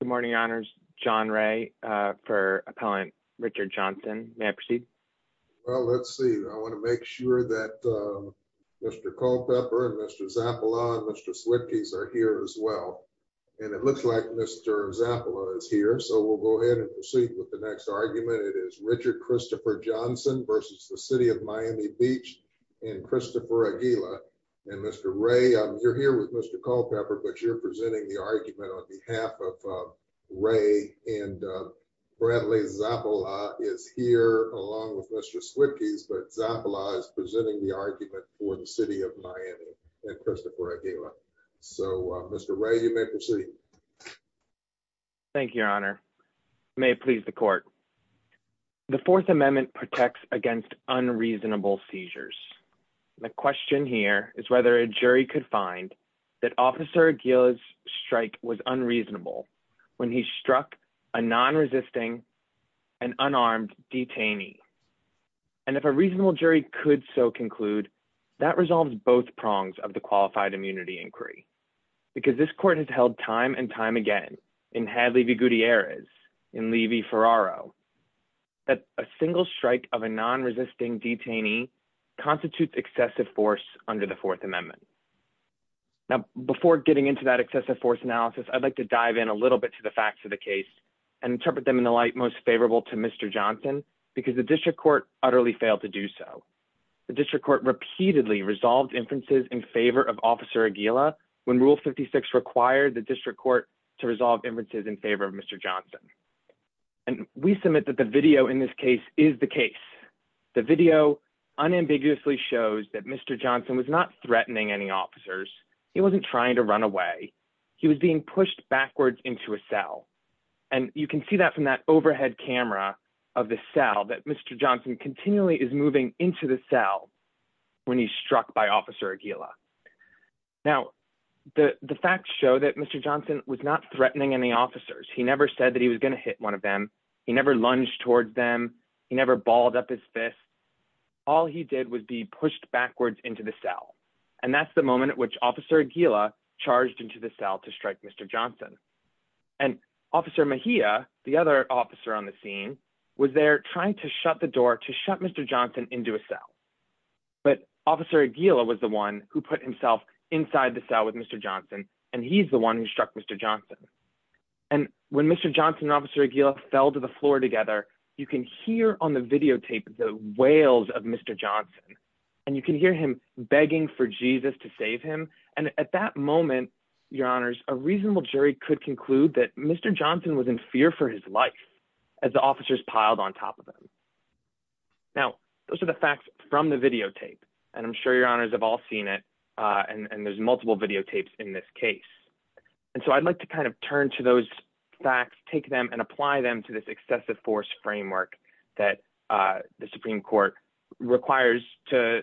Good morning, honors. John Ray for Appellant Richard Johnson. May I proceed? Well, let's see. I want to make sure that Mr. Culpepper and Mr. Zappala and Mr. Switkes are here as well. And it looks like Mr. Zappala is here, so we'll go ahead and proceed with the next argument. It is Richard Christopher Johnson versus the City of Miami Beach and Christopher Aguila. And Mr. Ray, you're here with Mr. Culpepper, but you're presenting the argument on behalf of Ray. And Bradley Zappala is here along with Mr. Switkes, but Zappala is presenting the argument for the City of Miami and Christopher Aguila. So, Mr. Ray, you may proceed. Thank you, your honor. May it please the court. The Fourth Amendment protects against unreasonable seizures. The question here is whether a jury could find that Officer Aguila's strike was unreasonable when he struck a non-resisting and unarmed detainee. And if a reasonable jury could so conclude, that resolves both prongs of the qualified immunity inquiry. Because this court has held time and time again in Hadley v. Gutierrez, in Levy-Ferraro, that a single strike of a non-resisting detainee constitutes excessive force under the Fourth Amendment. Now, before getting into that excessive force analysis, I'd like to dive in a little bit to the facts of the case and interpret them in the light most favorable to Mr. Johnson, because the district court utterly failed to do so. The district court repeatedly resolved inferences in favor of Officer Aguila when Rule 56 required the district court to resolve inferences in favor of Mr. Johnson. And we submit that the video in this case is the case. The video unambiguously shows that Mr. Johnson was not threatening any officers. He wasn't trying to run away. He was being pushed backwards into a cell. And you can see that from that overhead camera of the cell, that Mr. Johnson continually is moving into the cell when he's struck by Officer Aguila. Now, the facts show that Mr. Johnson was not threatening any officers. He never said that he was going to hit one of them. He never lunged towards them. He never balled up his fist. All he did was be pushed backwards into the cell. And that's the moment at which Officer Aguila charged into the cell to strike Mr. Johnson. And Officer Mejia, the other officer on the scene, was there trying to shut the door to shut Mr. Johnson into a cell. But Officer Aguila was the one who put himself inside the cell with Mr. Johnson, and he's the one who struck Mr. Johnson. And when Mr. Johnson and Officer Aguila fell to the floor together, you can hear on the videotape the wails of Mr. Johnson. And you can hear him begging for Jesus to save him. And at that moment, Your Honors, a reasonable jury could conclude that Mr. Johnson was in fear for his life as the officers piled on top of him. Now, those are the facts from the videotape, and I'm sure Your Honors have all seen it, and there's multiple videotapes in this case. And so I'd like to kind of turn to those facts, take them and apply them to this excessive force framework that the Supreme Court requires to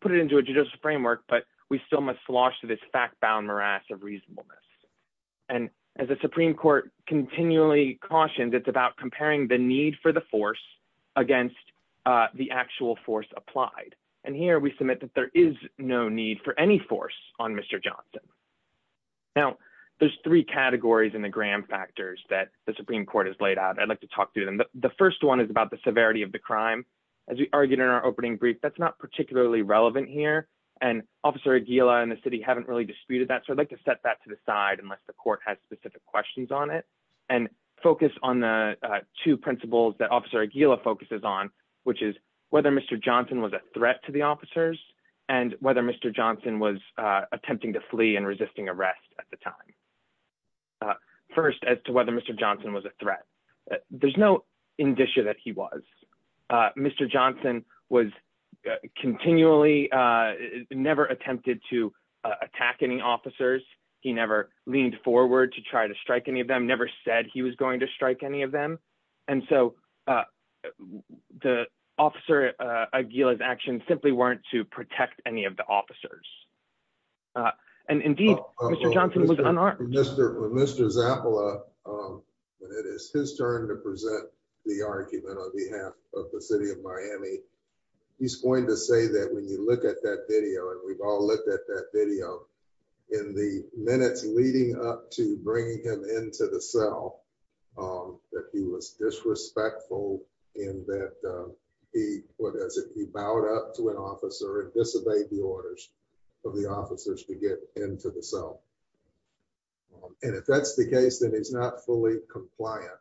put it into a judicial framework, but we still must slosh to this fact-bound morass of reasonableness. And as the Supreme Court continually cautions, it's about comparing the need for the force against the actual force applied. And here we submit that there is no need for any force on Mr. Johnson. Now, there's three categories in the Graham factors that the Supreme Court has laid out. I'd like to talk through them. The first one is about the severity of the crime. As we argued in our opening brief, that's not particularly relevant here. And Officer Aguila and the city haven't really disputed that, so I'd like to set that to the side unless the court has specific questions on it. And focus on the two principles that Officer Aguila focuses on, which is whether Mr. Johnson was a threat to the officers and whether Mr. Johnson was attempting to flee and resisting arrest at the time. First, as to whether Mr. Johnson was a threat. There's no indicia that he was. Mr. Johnson was continually, never attempted to attack any officers. He never leaned forward to try to strike any of them, never said he was going to strike any of them. And so the Officer Aguila's actions simply weren't to protect any of the officers. And indeed, Mr. Johnson was unarmed. Mr. Zappola, it is his turn to present the argument on behalf of the city of Miami. He's going to say that when you look at that video, and we've all looked at that video, in the minutes leading up to bringing him into the cell, that he was disrespectful and that he bowed up to an officer and disobeyed the orders. Of the officers to get into the cell. And if that's the case, then he's not fully compliant,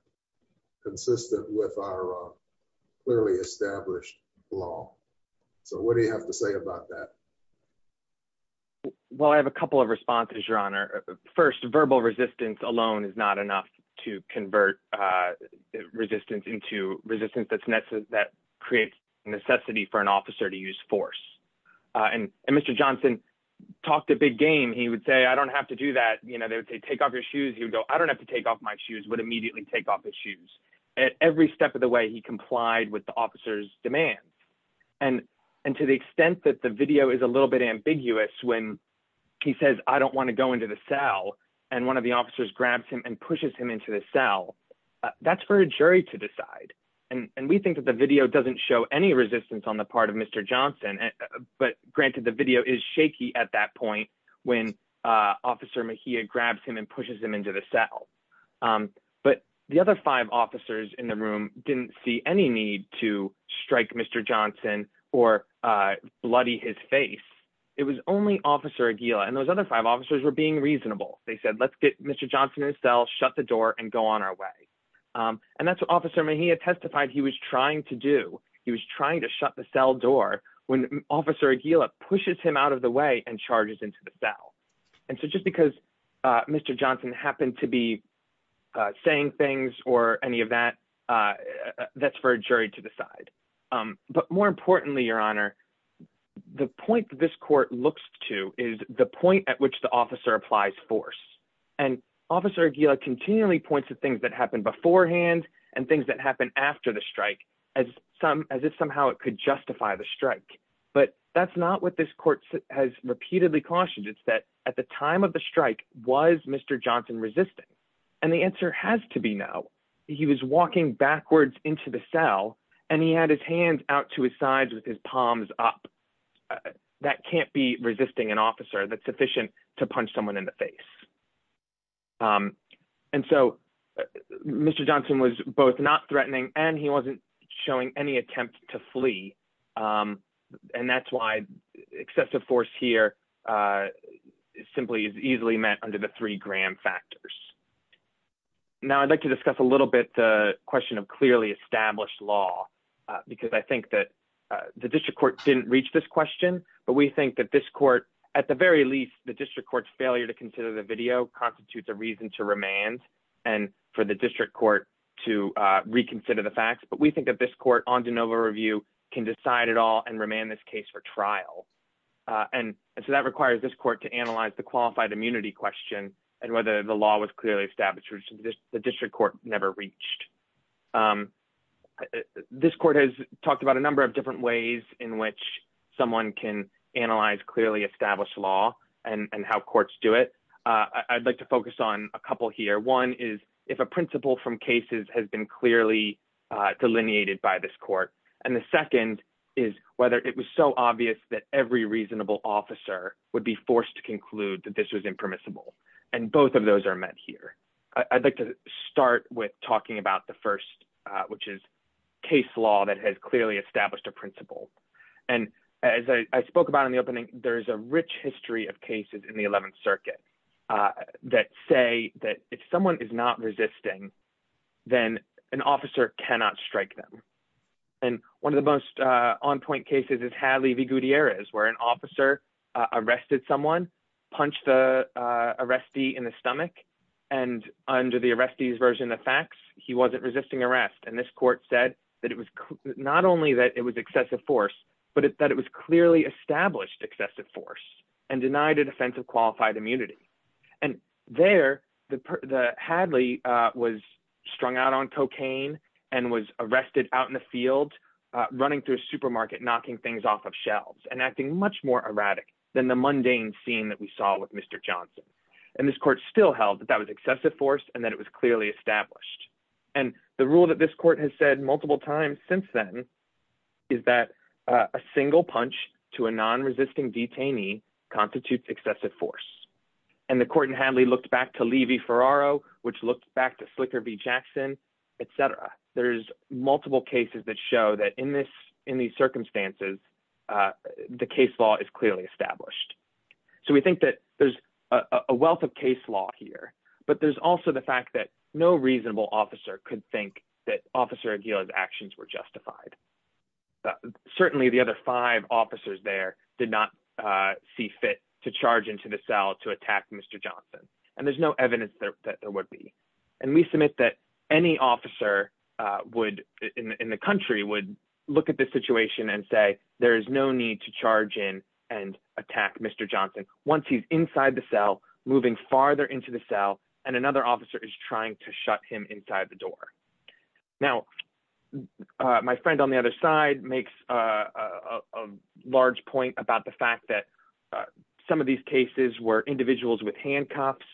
consistent with our clearly established law. So what do you have to say about that? Well, I have a couple of responses, Your Honor. First, verbal resistance alone is not enough to convert resistance into resistance that creates necessity for an officer to use force. And Mr. Johnson talked a big game. He would say, I don't have to do that. You know, they would say, take off your shoes. He would go, I don't have to take off my shoes, would immediately take off his shoes. At every step of the way, he complied with the officer's demands. And to the extent that the video is a little bit ambiguous, when he says, I don't want to go into the cell, and one of the officers grabs him and pushes him into the cell, that's for a jury to decide. And we think that the video doesn't show any resistance on the part of Mr. Johnson. But granted, the video is shaky at that point when Officer Mejia grabs him and pushes him into the cell. But the other five officers in the room didn't see any need to strike Mr. Johnson or bloody his face. It was only Officer Aguila and those other five officers were being reasonable. They said, let's get Mr. Johnson in the cell, shut the door and go on our way. And that's what Officer Mejia testified he was trying to do. He was trying to shut the cell door when Officer Aguila pushes him out of the way and charges into the cell. And so just because Mr. Johnson happened to be saying things or any of that, that's for a jury to decide. But more importantly, Your Honor, the point this court looks to is the point at which the officer applies force. And Officer Aguila continually points to things that happened beforehand and things that happened after the strike as if somehow it could justify the strike. But that's not what this court has repeatedly cautioned. It's that at the time of the strike, was Mr. Johnson resisting? And the answer has to be no. He was walking backwards into the cell and he had his hands out to his sides with his palms up. That can't be resisting an officer that's sufficient to punch someone in the face. And so Mr. Johnson was both not threatening and he wasn't showing any attempt to flee. And that's why excessive force here simply is easily met under the three Graham factors. Now, I'd like to discuss a little bit the question of clearly established law, because I think that the district court didn't reach this question. But we think that this court, at the very least, the district court's failure to consider the video constitutes a reason to remand and for the district court to reconsider the facts. But we think that this court on de novo review can decide it all and remand this case for trial. And so that requires this court to analyze the qualified immunity question and whether the law was clearly established, which the district court never reached. This court has talked about a number of different ways in which someone can analyze clearly established law and how courts do it. I'd like to focus on a couple here. One is if a principle from cases has been clearly delineated by this court. And the second is whether it was so obvious that every reasonable officer would be forced to conclude that this was impermissible. And both of those are met here. I'd like to start with talking about the first, which is case law that has clearly established a principle. And as I spoke about in the opening, there's a rich history of cases in the 11th Circuit that say that if someone is not resisting, then an officer cannot strike them. And one of the most on-point cases is Hadley v. Gutierrez, where an officer arrested someone, punched the arrestee in the stomach, and under the arrestee's version of facts, he wasn't resisting arrest. And this court said that it was not only that it was excessive force, but that it was clearly established excessive force and denied a defense of qualified immunity. And there, Hadley was strung out on cocaine and was arrested out in the field, running through a supermarket, knocking things off of shelves, and acting much more erratic than the mundane scene that we saw with Mr. Johnson. And this court still held that that was excessive force and that it was clearly established. And the rule that this court has said multiple times since then is that a single punch to a non-resisting detainee constitutes excessive force. And the court in Hadley looked back to Levy v. Ferraro, which looked back to Slicker v. Jackson, etc. There's multiple cases that show that in these circumstances, the case law is clearly established. So we think that there's a wealth of case law here, but there's also the fact that no reasonable officer could think that Officer Aguila's actions were justified. Certainly, the other five officers there did not see fit to charge into the cell to attack Mr. Johnson. And there's no evidence that there would be. And we submit that any officer in the country would look at this situation and say, there is no need to charge in and attack Mr. Johnson once he's inside the cell, moving farther into the cell, and another officer is trying to shut him inside the door. Now, my friend on the other side makes a large point about the fact that some of these cases were individuals with handcuffs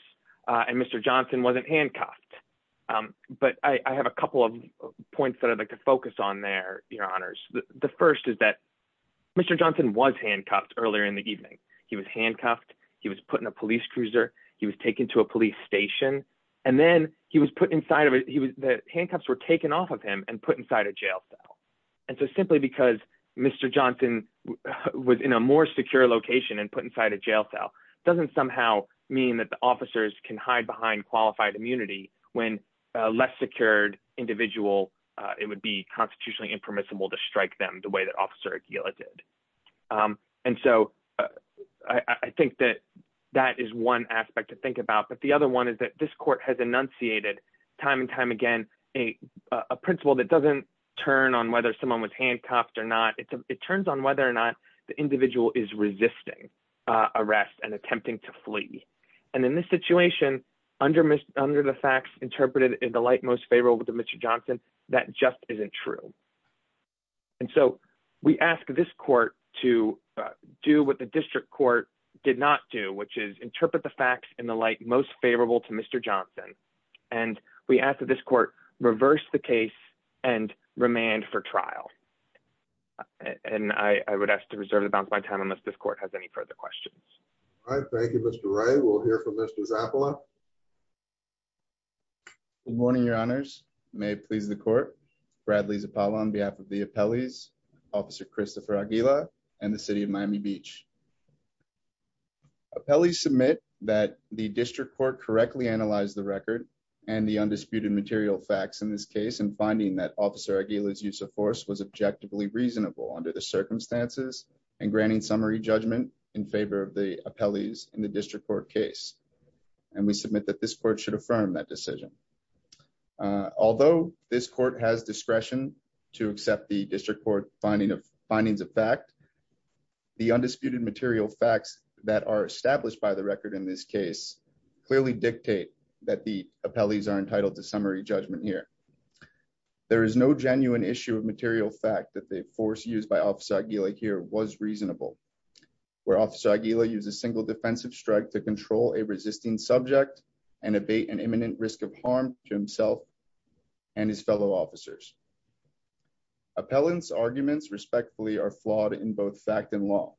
and Mr. Johnson wasn't handcuffed. But I have a couple of points that I'd like to focus on there, Your Honors. The first is that Mr. Johnson was handcuffed earlier in the evening. He was handcuffed. He was put in a police cruiser. He was taken to a police station. And then the handcuffs were taken off of him and put inside a jail cell. And so simply because Mr. Johnson was in a more secure location and put inside a jail cell doesn't somehow mean that the officers can hide behind qualified immunity when a less secured individual, it would be constitutionally impermissible to strike them the way that Officer Aguila did. And so I think that that is one aspect to think about. But the other one is that this court has enunciated time and time again a principle that doesn't turn on whether someone was handcuffed or not. It turns on whether or not the individual is resisting arrest and attempting to flee. And in this situation, under the facts interpreted in the light most favorable to Mr. Johnson, that just isn't true. And so we ask this court to do what the district court did not do, which is interpret the facts in the light most favorable to Mr. Johnson. And we ask that this court reverse the case and remand for trial. And I would ask to reserve the balance of my time unless this court has any further questions. All right. Thank you, Mr. Ray. We'll hear from Mr. Zappola. Good morning, Your Honors. May it please the court. Bradley Zappola on behalf of the appellees, Officer Christopher Aguila and the City of Miami Beach. Appellees submit that the district court correctly analyzed the record and the undisputed material facts in this case and finding that Officer Aguila's use of force was objectively reasonable under the circumstances and granting summary judgment in favor of the appellees in the district court case. And we submit that this court should affirm that decision. Although this court has discretion to accept the district court findings of fact, the undisputed material facts that are established by the record in this case clearly dictate that the appellees are entitled to summary judgment here. There is no genuine issue of material fact that the force used by Officer Aguila here was reasonable. Where Officer Aguila used a single defensive strike to control a resisting subject and abate an imminent risk of harm to himself and his fellow officers. Appellant's arguments respectfully are flawed in both fact and law.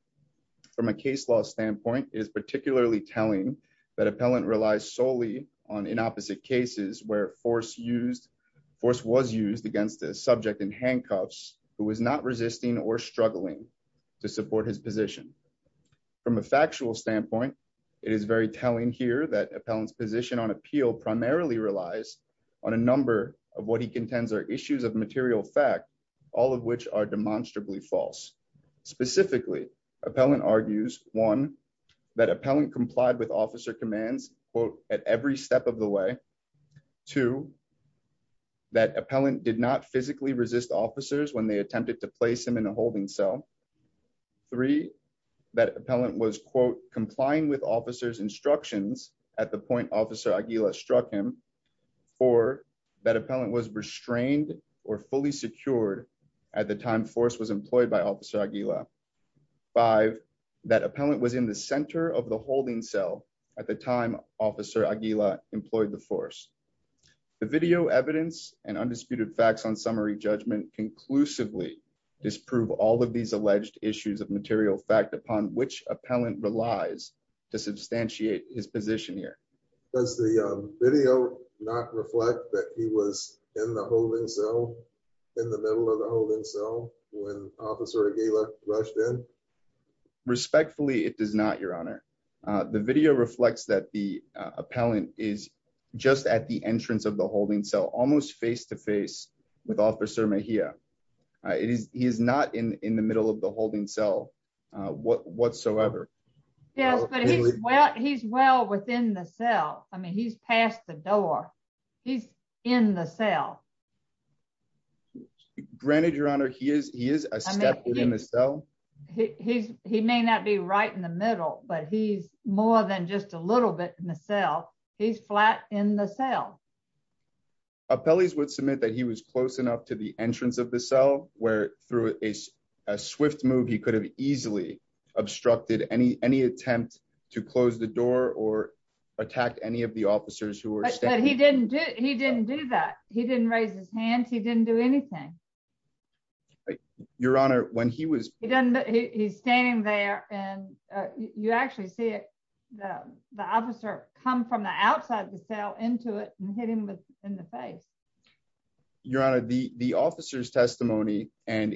From a case law standpoint, it is particularly telling that appellant relies solely on inopposite cases where force was used against a subject in handcuffs who was not resisting or struggling to support his position. From a factual standpoint, it is very telling here that appellant's position on appeal primarily relies on a number of what he contends are issues of material fact, all of which are demonstrably false. Specifically, appellant argues, one, that appellant complied with officer commands, quote, at every step of the way. Two, that appellant did not physically resist officers when they attempted to place him in a holding cell. Three, that appellant was, quote, complying with officers instructions at the point Officer Aguila struck him. Four, that appellant was restrained or fully secured at the time force was employed by Officer Aguila. Five, that appellant was in the center of the holding cell at the time Officer Aguila employed the force. The video evidence and undisputed facts on summary judgment conclusively disprove all of these alleged issues of material fact upon which appellant relies to substantiate his position here. Does the video not reflect that he was in the holding cell, in the middle of the holding cell when Officer Aguila rushed in? Respectfully, it does not, Your Honor. The video reflects that the appellant is just at the entrance of the holding cell, almost face to face with Officer Mejia. He is not in the middle of the holding cell whatsoever. Yes, but he's well within the cell. I mean, he's past the door. He's in the cell. Granted, Your Honor, he is a step within the cell. He may not be right in the middle, but he's more than just a little bit in the cell. He's flat in the cell. Appellees would submit that he was close enough to the entrance of the cell where through a swift move he could have easily obstructed any attempt to close the door or attack any of the officers who were standing. But he didn't do that. He didn't raise his hand. He didn't do anything. Your Honor, when he was... He's standing there and you actually see the officer come from the outside of the cell into it and hit him in the face. Your Honor, the officer's testimony, and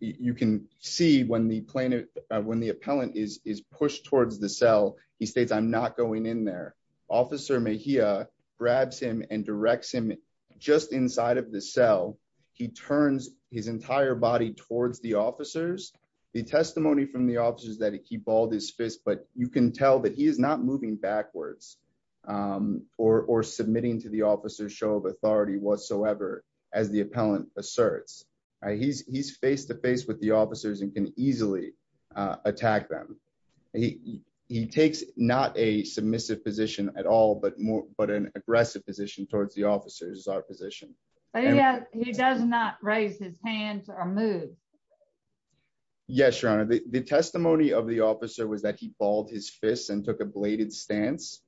you can see when the appellant is pushed towards the cell, he states, I'm not going in there. Officer Mejia grabs him and directs him just inside of the cell. He turns his entire body towards the officers. The testimony from the officer is that he balled his fist, but you can tell that he is not moving backwards or submitting to the officer's show of authority whatsoever, as the appellant asserts. He's face to face with the officers and can easily attack them. He takes not a submissive position at all, but an aggressive position towards the officers is our position. He does not raise his hand or move. Yes, Your Honor, the testimony of the officer was that he balled his fist and took a bladed stance.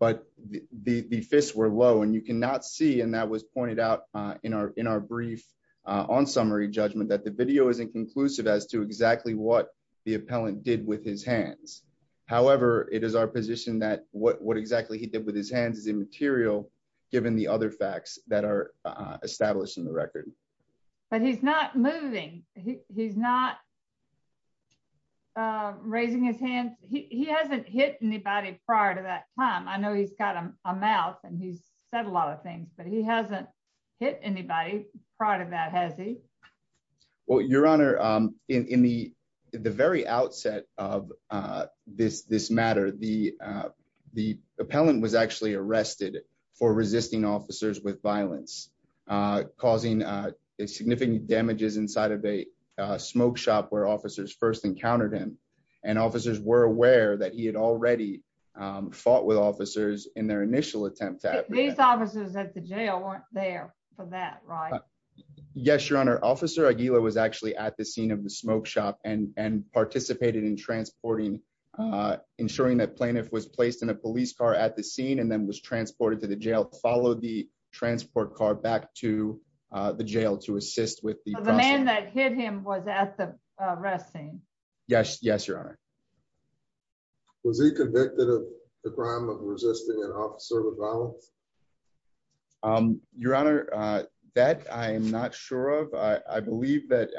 But the fists were low and you cannot see, and that was pointed out in our brief on summary judgment, that the video is inconclusive as to exactly what the appellant did with his hands. However, it is our position that what exactly he did with his hands is immaterial, given the other facts that are established in the record. But he's not moving. He's not raising his hands. He hasn't hit anybody prior to that time. I know he's got a mouth and he's said a lot of things, but he hasn't hit anybody prior to that, has he? Well, Your Honor, in the very outset of this matter, the appellant was actually arrested for resisting officers with violence, causing significant damages inside of a smoke shop where officers first encountered him. And officers were aware that he had already fought with officers in their initial attempt at... These officers at the jail weren't there for that, right? Yes, Your Honor. Officer Aguila was actually at the scene of the smoke shop and participated in transporting, ensuring that plaintiff was placed in a police car at the scene and then was transported to the jail, followed the transport car back to the jail to assist with the process. So the man that hit him was at the arrest scene? Yes, Your Honor. Was he convicted of the crime of resisting an officer with violence? Your Honor, that I'm not sure of. I believe that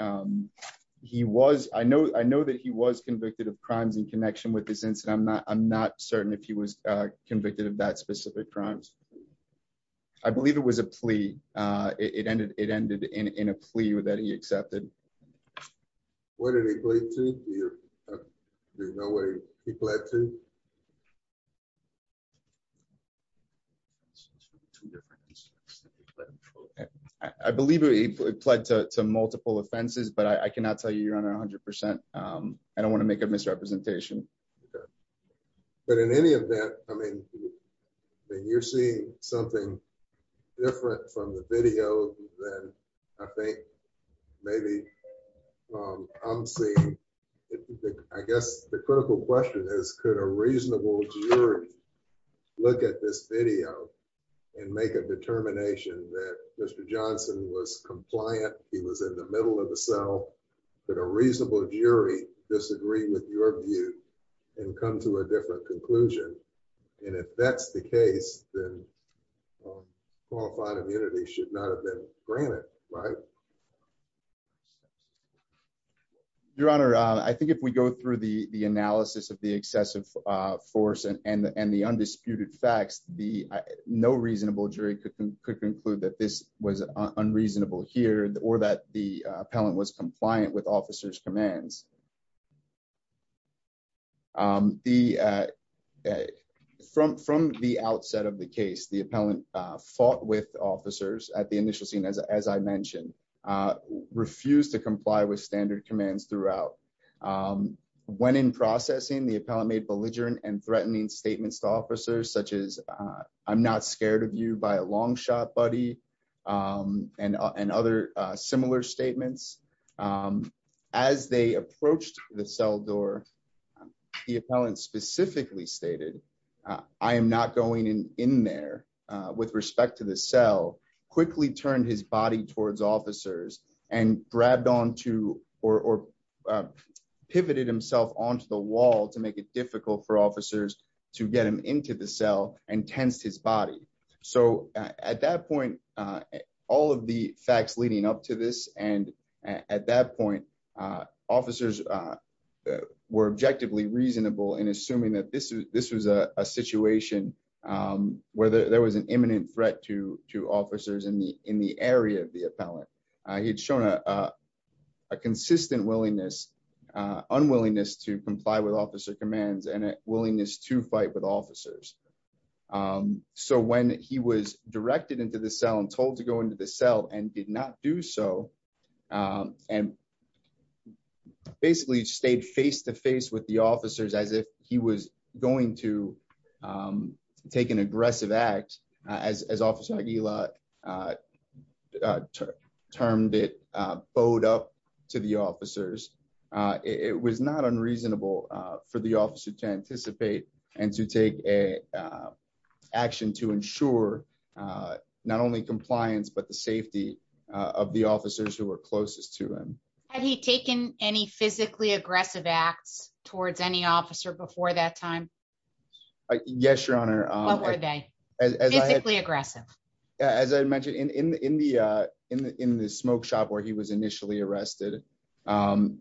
he was. I know that he was convicted of crimes in connection with this incident. I'm not certain if he was convicted of that specific crimes. I believe it was a plea. It ended in a plea that he accepted. Where did he plead to? Do you know where he pleaded to? I believe he pled to multiple offenses, but I cannot tell you, Your Honor, 100%. I don't want to make a misrepresentation. But in any event, I mean, you're seeing something different from the video than I think maybe I'm seeing. Your Honor, I think if we go through the analysis of the excessive force and the undisputed facts, no reasonable jury could conclude that this was unreasonable here or that the appellant was compliant with officers' commands. From the outset of the case, the appellant fought with officers at the initial scene, as I mentioned, refused to comply with standard commands throughout. When in processing, the appellant made belligerent and threatening statements to officers such as, I'm not scared of you by a long shot, buddy, and other similar statements. As they approached the cell door, the appellant specifically stated, I am not going in there, with respect to the cell, quickly turned his body towards officers and grabbed onto or pivoted himself onto the wall to make it difficult for officers to get him into the cell and tensed his body. So at that point, all of the facts leading up to this, and at that point, officers were objectively reasonable in assuming that this was a situation where there was an imminent threat to officers in the area of the appellant. He had shown a consistent willingness, unwillingness to comply with officer commands and a willingness to fight with officers. So when he was directed into the cell and told to go into the cell and did not do so, and basically stayed face-to-face with the officers as if he was going to take an aggressive act, as Officer Aguilar termed it, bowed up to the officers, it was not unreasonable for the officer to anticipate and to take action to ensure not only compliance, but the safety of the officers who were closest to him. Had he taken any physically aggressive acts towards any officer before that time? Yes, Your Honor. What were they? Physically aggressive? As I mentioned, in the smoke shop where he was initially arrested,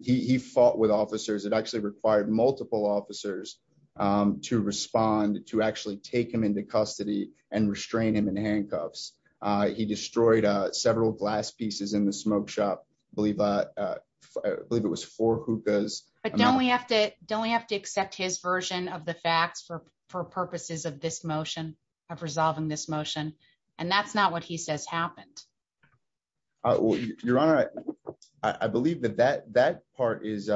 he fought with officers. It actually required multiple officers to respond, to actually take him into custody and restrain him in handcuffs. He destroyed several glass pieces in the smoke shop. I believe it was four hookahs. But don't we have to accept his version of the facts for purposes of this motion, of resolving this motion? And that's not what he says happened. Your Honor, I believe that that part is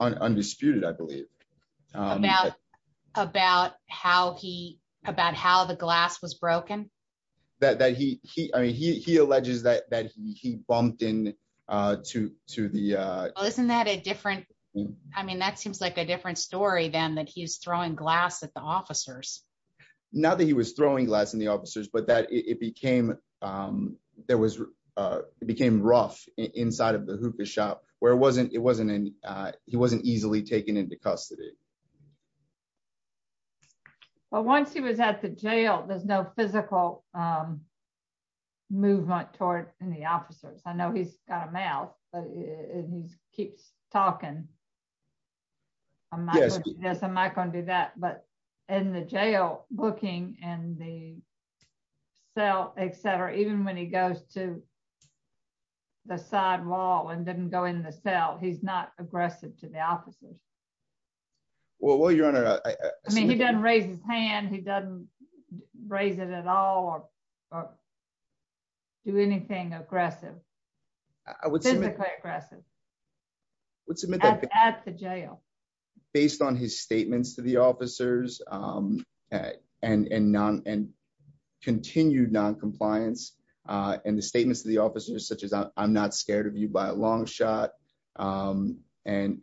undisputed, I believe. About how the glass was broken? He alleges that he bumped into the... Well, isn't that a different... I mean, that seems like a different story than that he's throwing glass at the officers. Not that he was throwing glass at the officers, but that it became rough inside of the hookah shop, where he wasn't easily taken into custody. But once he was at the jail, there's no physical movement toward any officers. I know he's got a mouth, and he keeps talking. Yes. Yes, I'm not going to do that. But in the jail, looking in the cell, etc., even when he goes to the side wall and doesn't go in the cell, he's not aggressive to the officers. Well, Your Honor... I mean, he doesn't raise his hand, he doesn't raise it at all, or do anything aggressive. Physically aggressive. At the jail. Based on his statements to the officers, and continued non-compliance, and the statements to the officers such as, I'm not scared of you by a long shot. And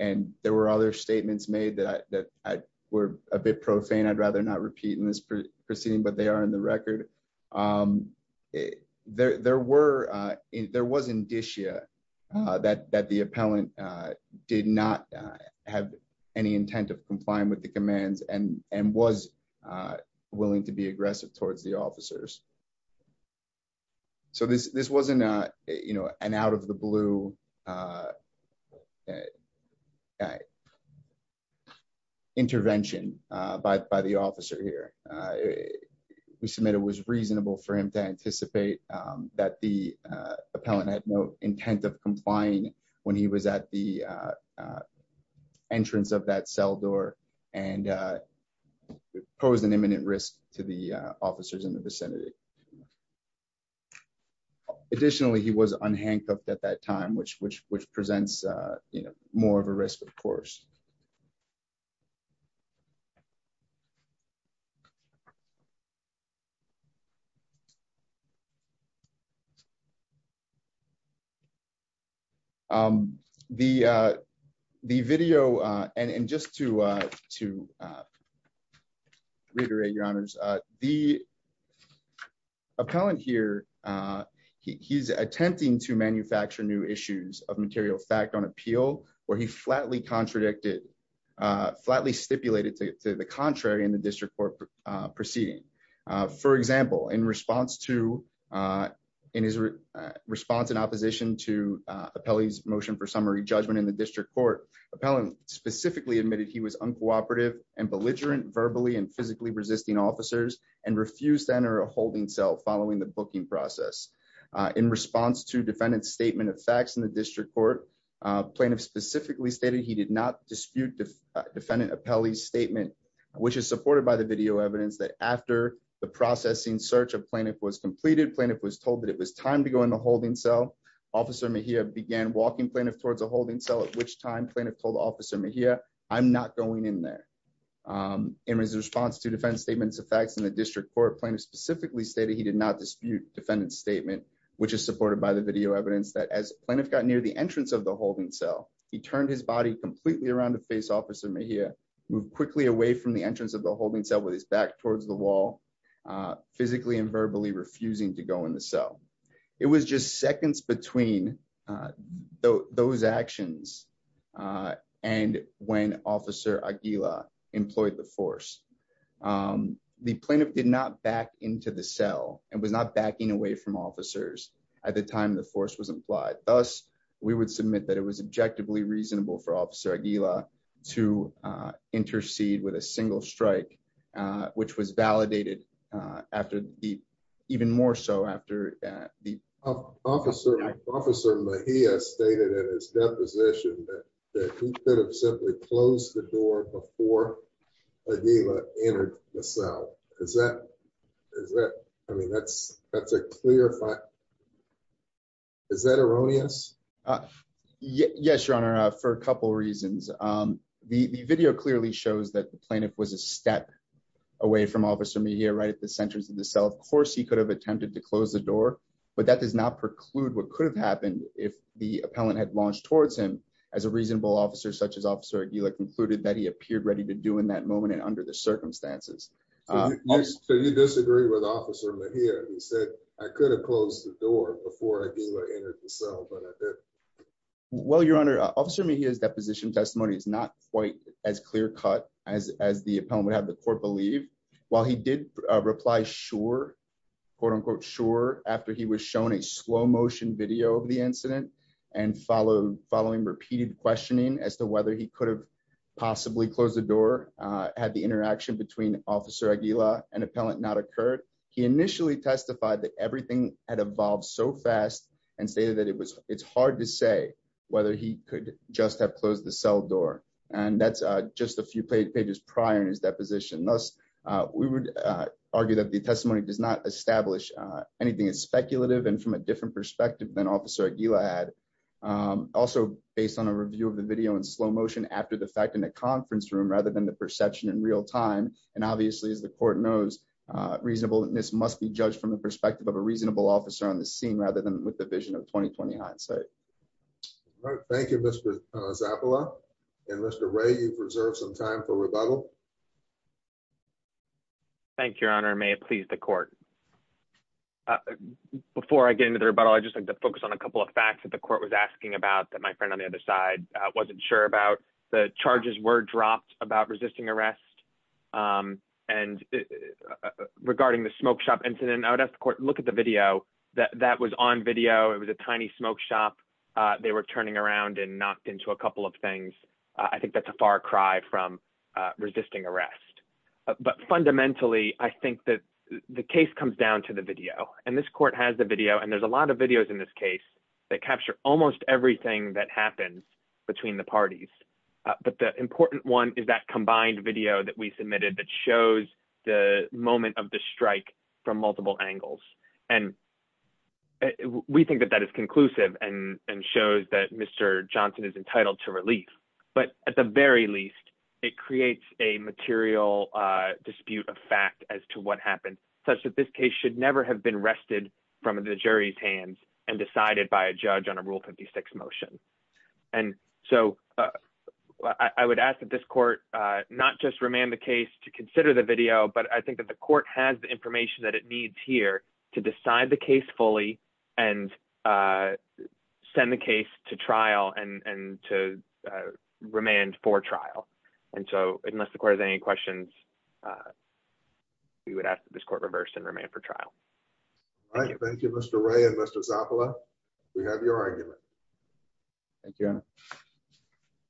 there were other statements made that were a bit profane, I'd rather not repeat in this proceeding, but they are in the record. There was indicia that the appellant did not have any intent of complying with the commands, and was willing to be aggressive towards the officers. So this wasn't an out of the blue intervention by the officer here. We submit it was reasonable for him to anticipate that the appellant had no intent of complying when he was at the entrance of that cell door, and posed an imminent risk to the officers in the vicinity. Additionally, he was unhandcuffed at that time, which presents more of a risk, of course. The video, and just to reiterate your honors, the appellant here, he's attempting to manufacture new issues of material fact on appeal, where he flatly contradicted, flatly stipulated to the contrary in the district court proceedings. For example, in response to, in his response in opposition to appellee's motion for summary judgment in the district court, appellant specifically admitted he was uncooperative and belligerent verbally and physically resisting officers, and refused to enter a holding cell following the booking process. In response to defendant's statement of facts in the district court, plaintiff specifically stated he did not dispute defendant appellee's statement, which is supported by the video evidence that after the processing search of plaintiff was completed, plaintiff was told that it was time to go into a holding cell. Officer Mejia began walking plaintiff towards a holding cell, at which time plaintiff told officer Mejia, I'm not going in there. In response to defendant's statement of facts in the district court, plaintiff specifically stated he did not dispute defendant's statement, which is supported by the video evidence that as plaintiff got near the entrance of the holding cell, he turned his body completely around to face officer Mejia, moved quickly away from the entrance of the holding cell with his back towards the wall, physically and verbally refusing to go in the cell. It was just seconds between those actions, and when officer Aguila employed the force. The plaintiff did not back into the cell and was not backing away from officers at the time the force was implied. Thus, we would submit that it was objectively reasonable for officer Aguila to intercede with a single strike, which was validated after the even more so after the Officer Mejia stated in his deposition that he could have simply closed the door before Aguila entered the cell. Is that, is that, I mean, that's, that's a clear fact. Is that erroneous? Yes, Your Honor, for a couple reasons. The video clearly shows that the plaintiff was a step away from officer Mejia right at the center of the cell. Of course, he could have attempted to close the door, but that does not preclude what could have happened if the appellant had launched towards him as a reasonable officer such as officer Aguila concluded that he appeared ready to do in that moment and under the circumstances. So you disagree with officer Mejia who said, I could have closed the door before Aguila entered the cell, but I didn't. Well, Your Honor, officer Mejia's deposition testimony is not quite as clear cut as the appellant would have the court believe. While he did reply, sure, quote unquote, sure, after he was shown a slow motion video of the incident and followed following repeated questioning as to whether he could have possibly closed the door had the interaction between officer Aguila and appellant not occurred. He initially testified that everything had evolved so fast and stated that it was, it's hard to say whether he could just have closed the cell door. And that's just a few pages prior to his deposition. Thus, we would argue that the testimony does not establish anything as speculative and from a different perspective than officer Aguila had also based on a review of the video in slow motion after the fact in a conference room rather than the perception in real time. And obviously, as the court knows, reasonable, this must be judged from the perspective of a reasonable officer on the scene rather than with the vision of 2020 hindsight. Thank you, Mr. Zappala and Mr. Ray you've reserved some time for rebuttal. Thank you, Your Honor, may it please the court. Before I get into the rebuttal I just like to focus on a couple of facts that the court was asking about that my friend on the other side wasn't sure about the charges were dropped about resisting arrest. And regarding the smoke shop incident I would ask the court, look at the video that that was on video it was a tiny smoke shop. They were turning around and knocked into a couple of things. I think that's a far cry from resisting arrest, but fundamentally, I think that the case comes down to the video, and this court has the video and there's a lot of videos in this case that capture, almost everything that happens between the parties. But the important one is that combined video that we submitted that shows the moment of the strike from multiple angles, and we think that that is conclusive and and shows that Mr. Johnson is entitled to relief, but at the very least, it creates a material dispute of fact as to what happened, such that this case should never have been rested from the jury's hands and decided by a judge on a rule 56 motion. And so I would ask that this court, not just remain the case to consider the video but I think that the court has the information that it needs here to decide the case fully and send the case to trial and to remain for trial. And so, unless the court has any questions. We would ask this court reverse and remain for trial. Thank you, Mr. Ray and Mr. Zafala. We have your argument. Thank you.